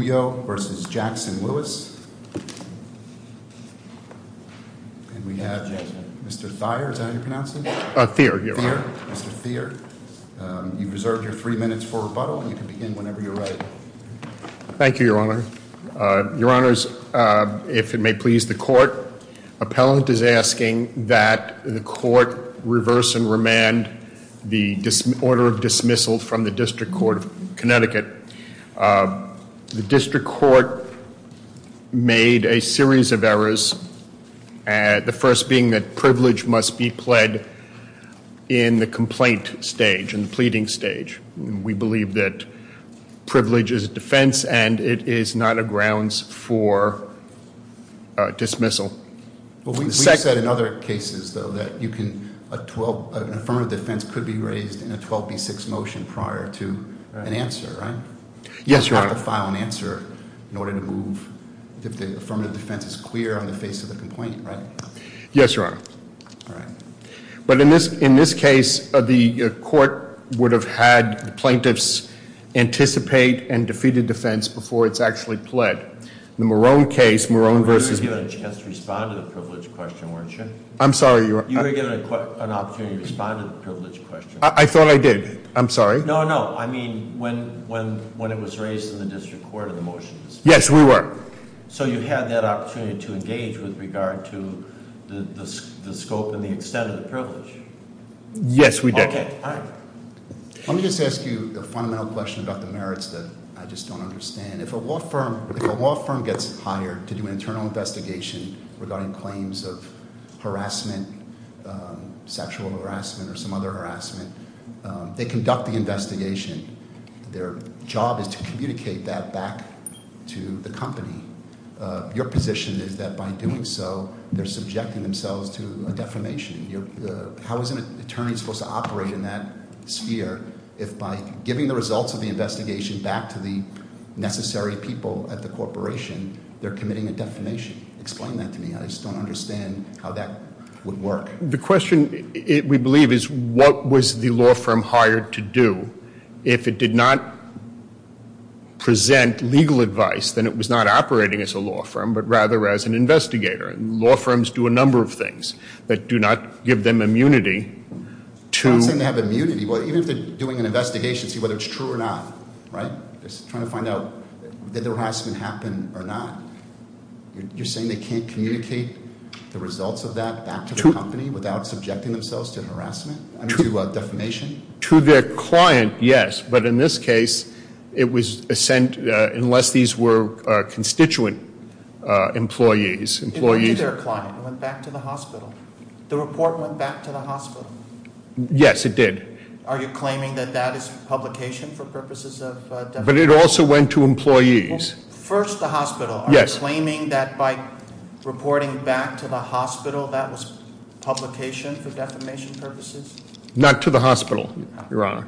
Your Honor, if it may please the Court, Appellant is asking that the Court reverse and remand the order of dismissal from the District Court of Connecticut. The District Court made a series of errors, the first being that privilege must be pled in the complaint stage, in the pleading stage. We believe that privilege is a defense and it is not a grounds for dismissal. We've said in other cases, though, that an affirmative defense could be raised in a 12B6 motion prior to an answer, right? Yes, Your Honor. You have to file an answer in order to move, if the affirmative defense is clear on the face of the complaint, right? Yes, Your Honor. All right. But in this case, the court would have had plaintiffs anticipate and defeated defense before it's actually pled. In the Marone case, Marone versus- You were given a chance to respond to the privilege question, weren't you? I'm sorry, Your Honor. You were given an opportunity to respond to the privilege question. I thought I did, I'm sorry. No, no. I mean, when it was raised in the District Court in the motions. Yes, we were. So you had that opportunity to engage with regard to the scope and the extent of the privilege. Yes, we did. Okay, all right. Let me just ask you a fundamental question about the merits that I just don't understand. And if a law firm gets hired to do an internal investigation regarding claims of harassment, sexual harassment, or some other harassment, they conduct the investigation. Their job is to communicate that back to the company. Your position is that by doing so, they're subjecting themselves to a defamation. How is an attorney supposed to operate in that sphere if by giving the results of the investigation back to the necessary people at the corporation, they're committing a defamation? Explain that to me. I just don't understand how that would work. The question, we believe, is what was the law firm hired to do? If it did not present legal advice, then it was not operating as a law firm, but rather as an investigator. Law firms do a number of things that do not give them immunity to- Even if they're doing an investigation to see whether it's true or not, right? Just trying to find out, did the harassment happen or not? You're saying they can't communicate the results of that back to the company without subjecting themselves to harassment, to defamation? To their client, yes. But in this case, it was sent, unless these were constituent employees. Employees- It went to their client, it went back to the hospital. The report went back to the hospital. Yes, it did. Are you claiming that that is publication for purposes of defamation? But it also went to employees. First, the hospital. Yes. Are you claiming that by reporting back to the hospital that was publication for defamation purposes? Not to the hospital, your honor.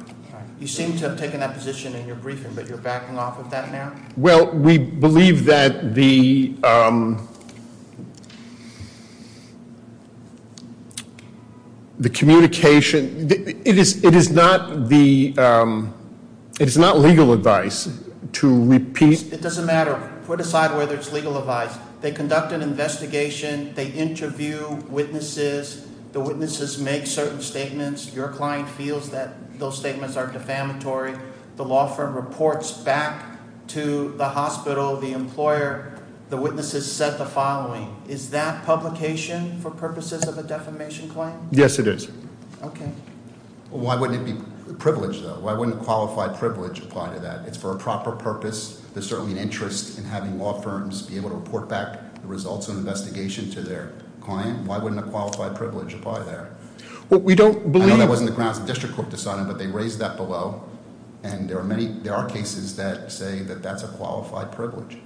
You seem to have taken that position in your briefing, but you're backing off of that now? Well, we believe that the The communication, it is not the, it is not legal advice to repeat- It doesn't matter. Put aside whether it's legal advice. They conduct an investigation, they interview witnesses. The witnesses make certain statements. Your client feels that those statements are defamatory. The law firm reports back to the hospital, the employer. The witnesses said the following. Is that publication for purposes of a defamation claim? Yes, it is. Okay. Why wouldn't it be privileged, though? Why wouldn't a qualified privilege apply to that? It's for a proper purpose. There's certainly an interest in having law firms be able to report back the results of an investigation to their client. Why wouldn't a qualified privilege apply there? Well, we don't believe- I know that wasn't the grounds the district court decided, but they raised that below. And there are cases that say that that's a qualified privilege.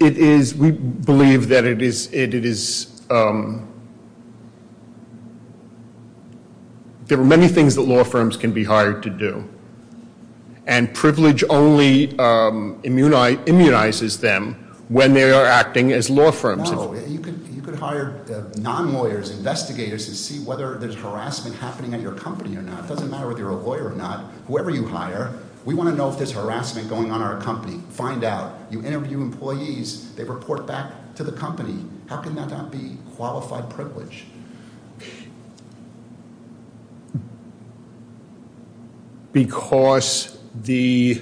It is, we believe that it is. There are many things that law firms can be hired to do. And privilege only immunizes them when they are acting as law firms. No, you could hire non-lawyers, investigators, to see whether there's harassment happening at your company or not. It doesn't matter whether you're a lawyer or not. Whoever you hire, we want to know if there's harassment going on in our company. Find out. You interview employees. They report back to the company. How can that not be qualified privilege? Because the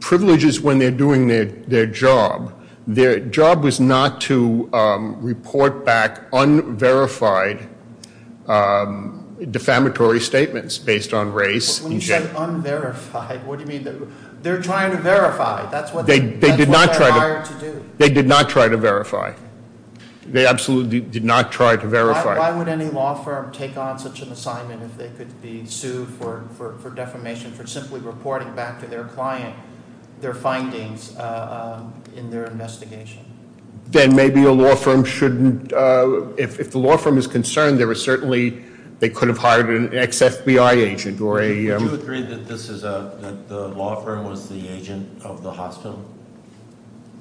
privileges when they're doing their job. Their job was not to report back unverified defamatory statements based on race. When you said unverified, what do you mean? They're trying to verify. That's what they're hired to do. They did not try to verify. They absolutely did not try to verify. Why would any law firm take on such an assignment if they could be sued for defamation for simply reporting back to their client their findings in their investigation? Then maybe a law firm shouldn't, if the law firm is concerned, they were certainly, they could have hired an ex-FBI agent or a- Do you agree that the law firm was the agent of the hospital?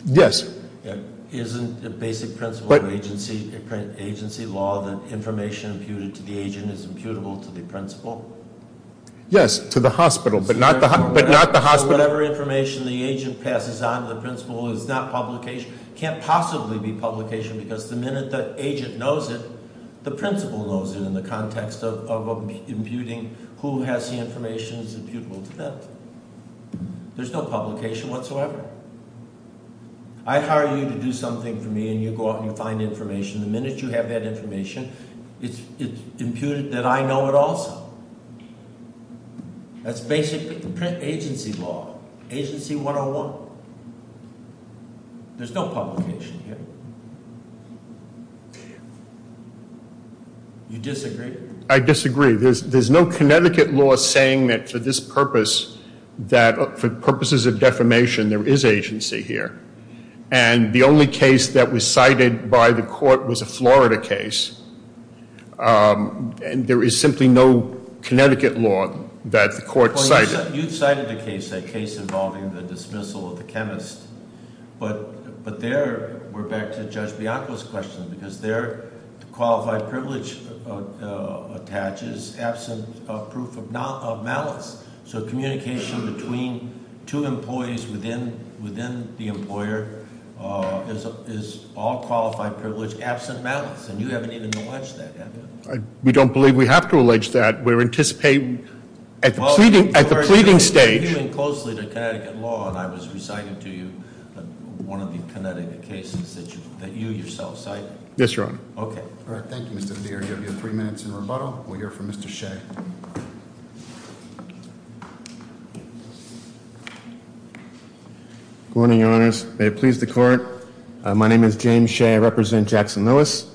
Yes. Isn't a basic principle of agency law that information imputed to the agent is imputable to the principal? Yes, to the hospital, but not the hospital. Whatever information the agent passes on to the principal is not publication. Can't possibly be publication because the minute the agent knows it, the principal knows it in the context of imputing who has the information is imputable to them. There's no publication whatsoever. I hire you to do something for me and you go out and you find information. The minute you have that information, it's imputed that I know it also. That's basically the print agency law, agency 101. There's no publication here. You disagree? I disagree. There's no Connecticut law saying that for this purpose, that for purposes of defamation, there is agency here. And the only case that was cited by the court was a Florida case. And there is simply no Connecticut law that the court cited. You cited a case, a case involving the dismissal of the chemist. But there, we're back to Judge Bianco's question, because there, the qualified privilege attaches absent proof of malice. So communication between two employees within the employer is all qualified privilege absent malice, and you haven't even alleged that, have you? We don't believe we have to allege that. We're anticipating at the pleading stage. You're hearing closely the Connecticut law, and I was reciting to you one of the Connecticut cases that you yourself cited. Yes, Your Honor. Okay. All right, thank you, Mr. Deere. You have your three minutes in rebuttal. We'll hear from Mr. Shea. Good morning, Your Honors. May it please the court. My name is James Shea. I represent Jackson Lewis.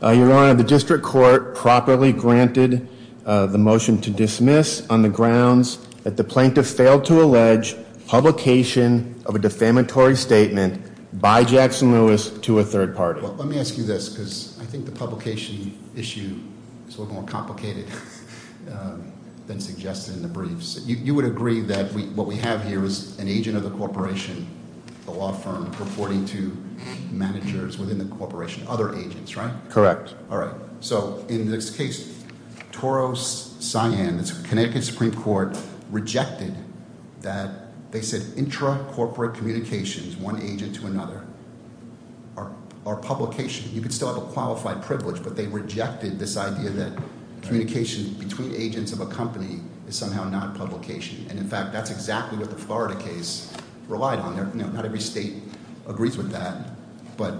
Your Honor, the district court properly granted the motion to dismiss on the grounds that the plaintiff failed to allege publication of a defamatory statement by Jackson Lewis to a third party. Let me ask you this, because I think the publication issue is a little more complicated than suggested in the briefs. You would agree that what we have here is an agent of the corporation, a law firm reporting to managers within the corporation, other agents, right? Correct. All right. So in this case, Toros Cyan, it's Connecticut Supreme Court, rejected that they said intra-corporate communications, one agent to another, are publication. You could still have a qualified privilege, but they rejected this idea that communication between agents of a company is somehow not publication. And in fact, that's exactly what the Florida case relied on. Not every state agrees with that. But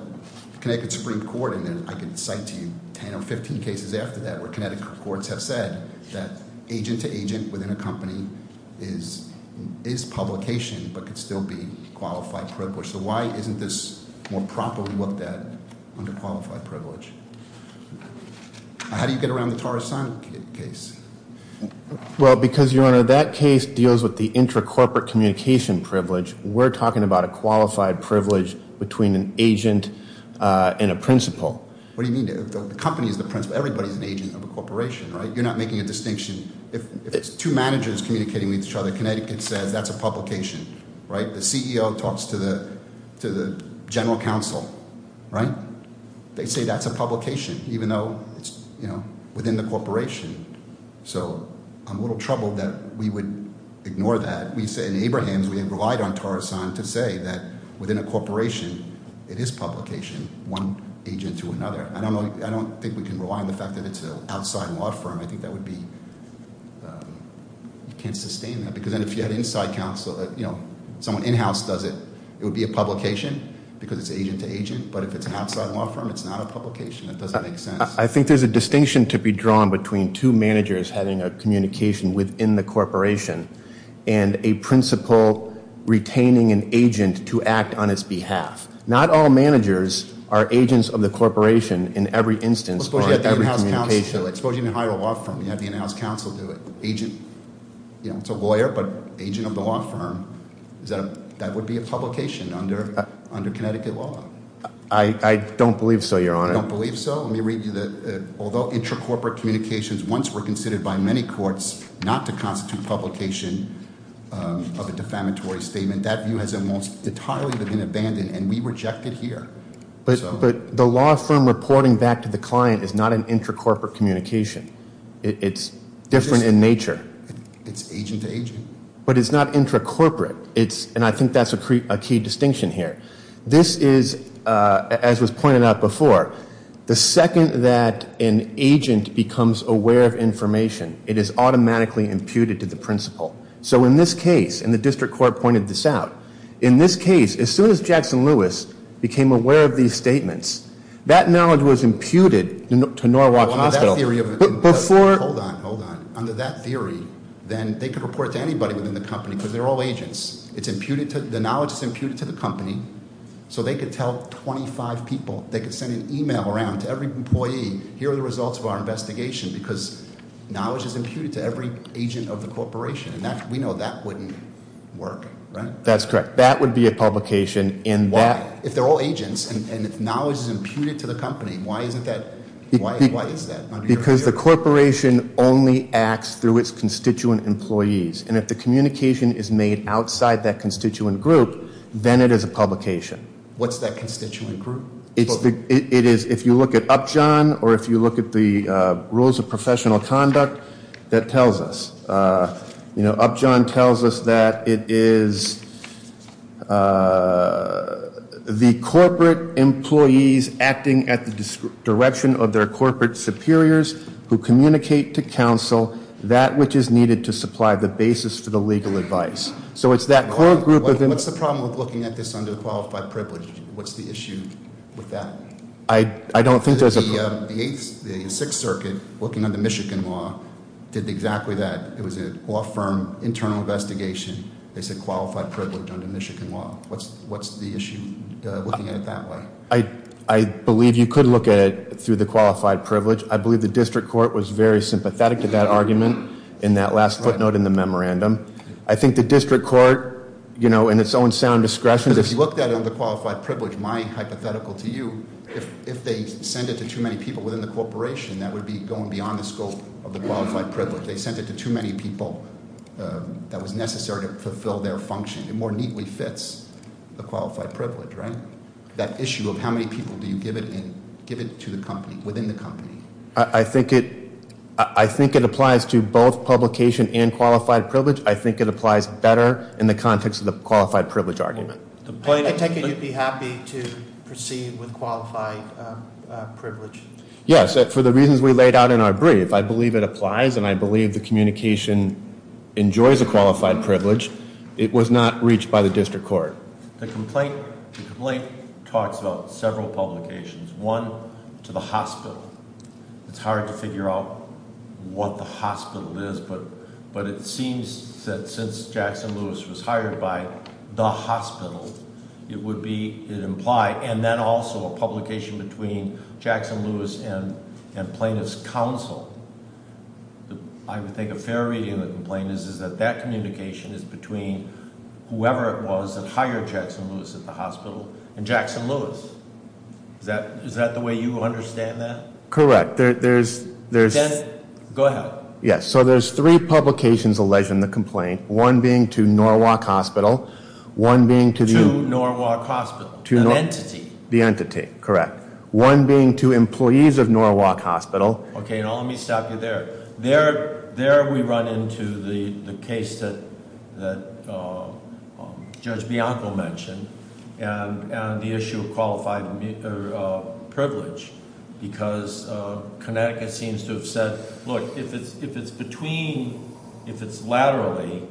Connecticut Supreme Court, and then I can cite to you 10 or 15 cases after that, where Connecticut courts have said that agent to agent within a company is publication, but could still be qualified privilege. So why isn't this more properly looked at under qualified privilege? How do you get around the Toros Cyan case? Well, because your honor, that case deals with the intra-corporate communication privilege. We're talking about a qualified privilege between an agent and a principal. What do you mean? The company is the principal. Everybody's an agent of a corporation, right? You're not making a distinction. If it's two managers communicating with each other, Connecticut says that's a publication, right? The CEO talks to the general counsel, right? They say that's a publication, even though it's within the corporation. So I'm a little troubled that we would ignore that. We said in Abrahams, we had relied on Toros Cyan to say that within a corporation, it is publication, one agent to another. I don't think we can rely on the fact that it's an outside law firm. I think that would be, you can't sustain that. Because then if you had inside counsel, someone in-house does it, it would be a publication because it's agent to agent. But if it's an outside law firm, it's not a publication. It doesn't make sense. I think there's a distinction to be drawn between two managers having a communication within the corporation. And a principal retaining an agent to act on its behalf. Not all managers are agents of the corporation in every instance. Or every communication. Suppose you even hire a law firm, you have the in-house counsel do it. Agent, it's a lawyer, but agent of the law firm, that would be a publication under Connecticut law. I don't believe so, your honor. I don't believe so. Let me read you the, although intra-corporate communications once were considered by many courts not to constitute publication of a defamatory statement, that view has almost entirely been abandoned, and we reject it here. But the law firm reporting back to the client is not an intra-corporate communication. It's different in nature. It's agent to agent. But it's not intra-corporate, and I think that's a key distinction here. This is, as was pointed out before, the second that an agent becomes aware of information, it is automatically imputed to the principal. So in this case, and the district court pointed this out, in this case, as soon as Jackson Lewis became aware of these statements, that knowledge was imputed to Norwalk Hospital. Before- Hold on, hold on. Under that theory, then they could report to anybody within the company, because they're all agents. It's imputed to, the knowledge is imputed to the company, so they could tell 25 people. They could send an email around to every employee, here are the results of our investigation, because knowledge is imputed to every agent of the corporation, and we know that wouldn't work, right? That's correct. That would be a publication, and that- Why? If they're all agents, and if knowledge is imputed to the company, why isn't that, why is that? Because the corporation only acts through its constituent employees. And if the communication is made outside that constituent group, then it is a publication. What's that constituent group? It's the, it is, if you look at Upjohn, or if you look at the rules of professional conduct, that tells us. Upjohn tells us that it is the corporate employees acting at the direction of their corporate superiors, who communicate to counsel that which is needed to supply the basis for the legal advice. So it's that core group of- What's the problem with looking at this under qualified privilege? What's the issue with that? I don't think there's a- The Sixth Circuit, looking under Michigan law, did exactly that. It was a law firm internal investigation. They said qualified privilege under Michigan law. What's the issue looking at it that way? I believe you could look at it through the qualified privilege. I believe the district court was very sympathetic to that argument in that last footnote in the memorandum. I think the district court, in its own sound discretion- Because if you looked at it under qualified privilege, my hypothetical to you, if they send it to too many people within the corporation, that would be going beyond the scope of the qualified privilege. They sent it to too many people that was necessary to fulfill their function. It more neatly fits the qualified privilege, right? That issue of how many people do you give it to the company, within the company? I think it applies to both publication and qualified privilege. I think it applies better in the context of the qualified privilege argument. I take it you'd be happy to proceed with qualified privilege? Yes, for the reasons we laid out in our brief. I believe it applies and I believe the communication enjoys a qualified privilege. It was not reached by the district court. The complaint talks about several publications. One, to the hospital. It's hard to figure out what the hospital is, but it seems that since Jackson Lewis was hired by the hospital, it would be implied. And then also a publication between Jackson Lewis and plaintiff's counsel. I would think a fair reading of the complaint is that that communication is between whoever it was that hired Jackson Lewis at the hospital, and Jackson Lewis, is that the way you understand that? Correct, there's- Go ahead. Yes, so there's three publications alleged in the complaint, one being to Norwalk Hospital. One being to- To Norwalk Hospital, an entity. The entity, correct. One being to employees of Norwalk Hospital. Okay, now let me stop you there. There we run into the case that Judge Bianco mentioned, and the issue of qualified privilege, because Connecticut seems to have said, look, if it's between, if it's laterally,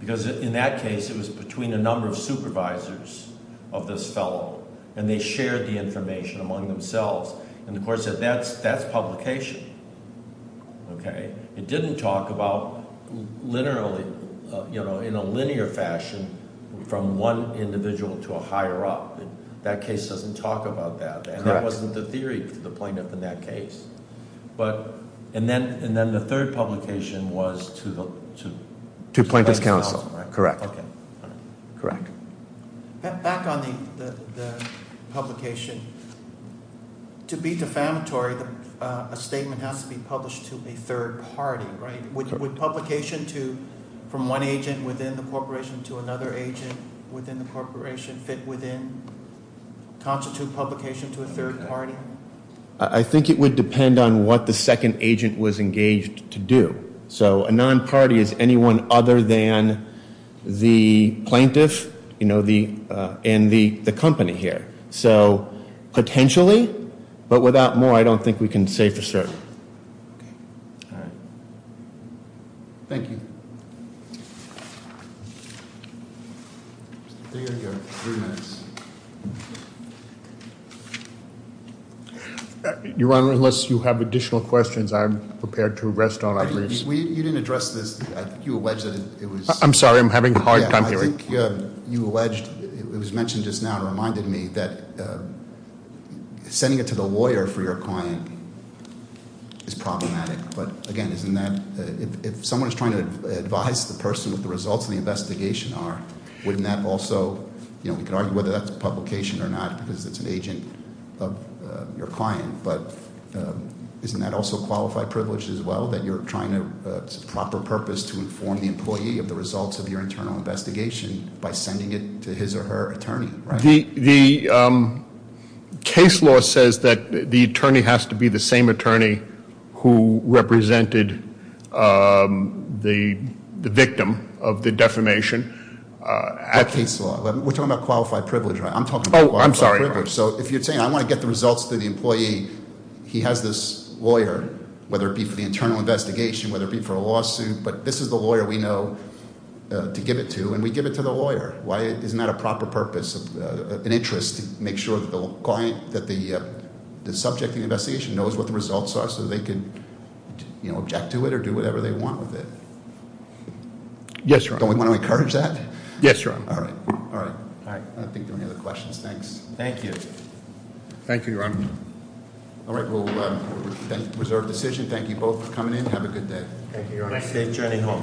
because in that case, it was between a number of supervisors of this fellow, and they shared the information among themselves, and the court said that's publication. Okay, it didn't talk about literally, in a linear fashion, from one individual to a higher up, that case doesn't talk about that. And that wasn't the theory for the plaintiff in that case. But, and then the third publication was to the- To plaintiff's counsel, correct. Okay, all right. Correct. Back on the publication, to be defamatory, a statement has to be published to a third party, right? Would publication to, from one agent within the corporation to another agent within the corporation, fit within, constitute publication to a third party? I think it would depend on what the second agent was engaged to do. So a non-party is anyone other than the plaintiff and the company here. So, potentially, but without more, I don't think we can say for certain. Okay. All right. Thank you. There you go, three minutes. Your Honor, unless you have additional questions, I'm prepared to rest on our leaves. You didn't address this, you alleged that it was- I'm sorry, I'm having a hard time hearing. I think you alleged, it was mentioned just now, it reminded me that sending it to the lawyer for your client is problematic. But again, isn't that, if someone's trying to advise the person what the results of the investigation are, wouldn't that also, we could argue whether that's a publication or not because it's an agent of your client. But isn't that also qualified privilege as well, that you're trying to, it's a proper purpose to inform the employee of the results of your internal investigation by sending it to his or her attorney, right? The case law says that the attorney has to be the same attorney who represented the victim of the defamation. That case law, we're talking about qualified privilege, right? I'm talking about qualified privilege. I'm sorry. So if you're saying I want to get the results to the employee, he has this lawyer, whether it be for the internal investigation, whether it be for a lawsuit, but this is the lawyer we know to give it to, and we give it to the lawyer. Why isn't that a proper purpose, an interest to make sure that the client, that the subject of the investigation knows what the results are so they can object to it or do whatever they want with it? Yes, Your Honor. Don't we want to encourage that? Yes, Your Honor. All right. All right. I don't think there are any other questions. Thanks. Thank you. Thank you, Your Honor. All right, we'll reserve decision. Thank you both for coming in. Have a good day. Thank you, Your Honor. Safe journey home.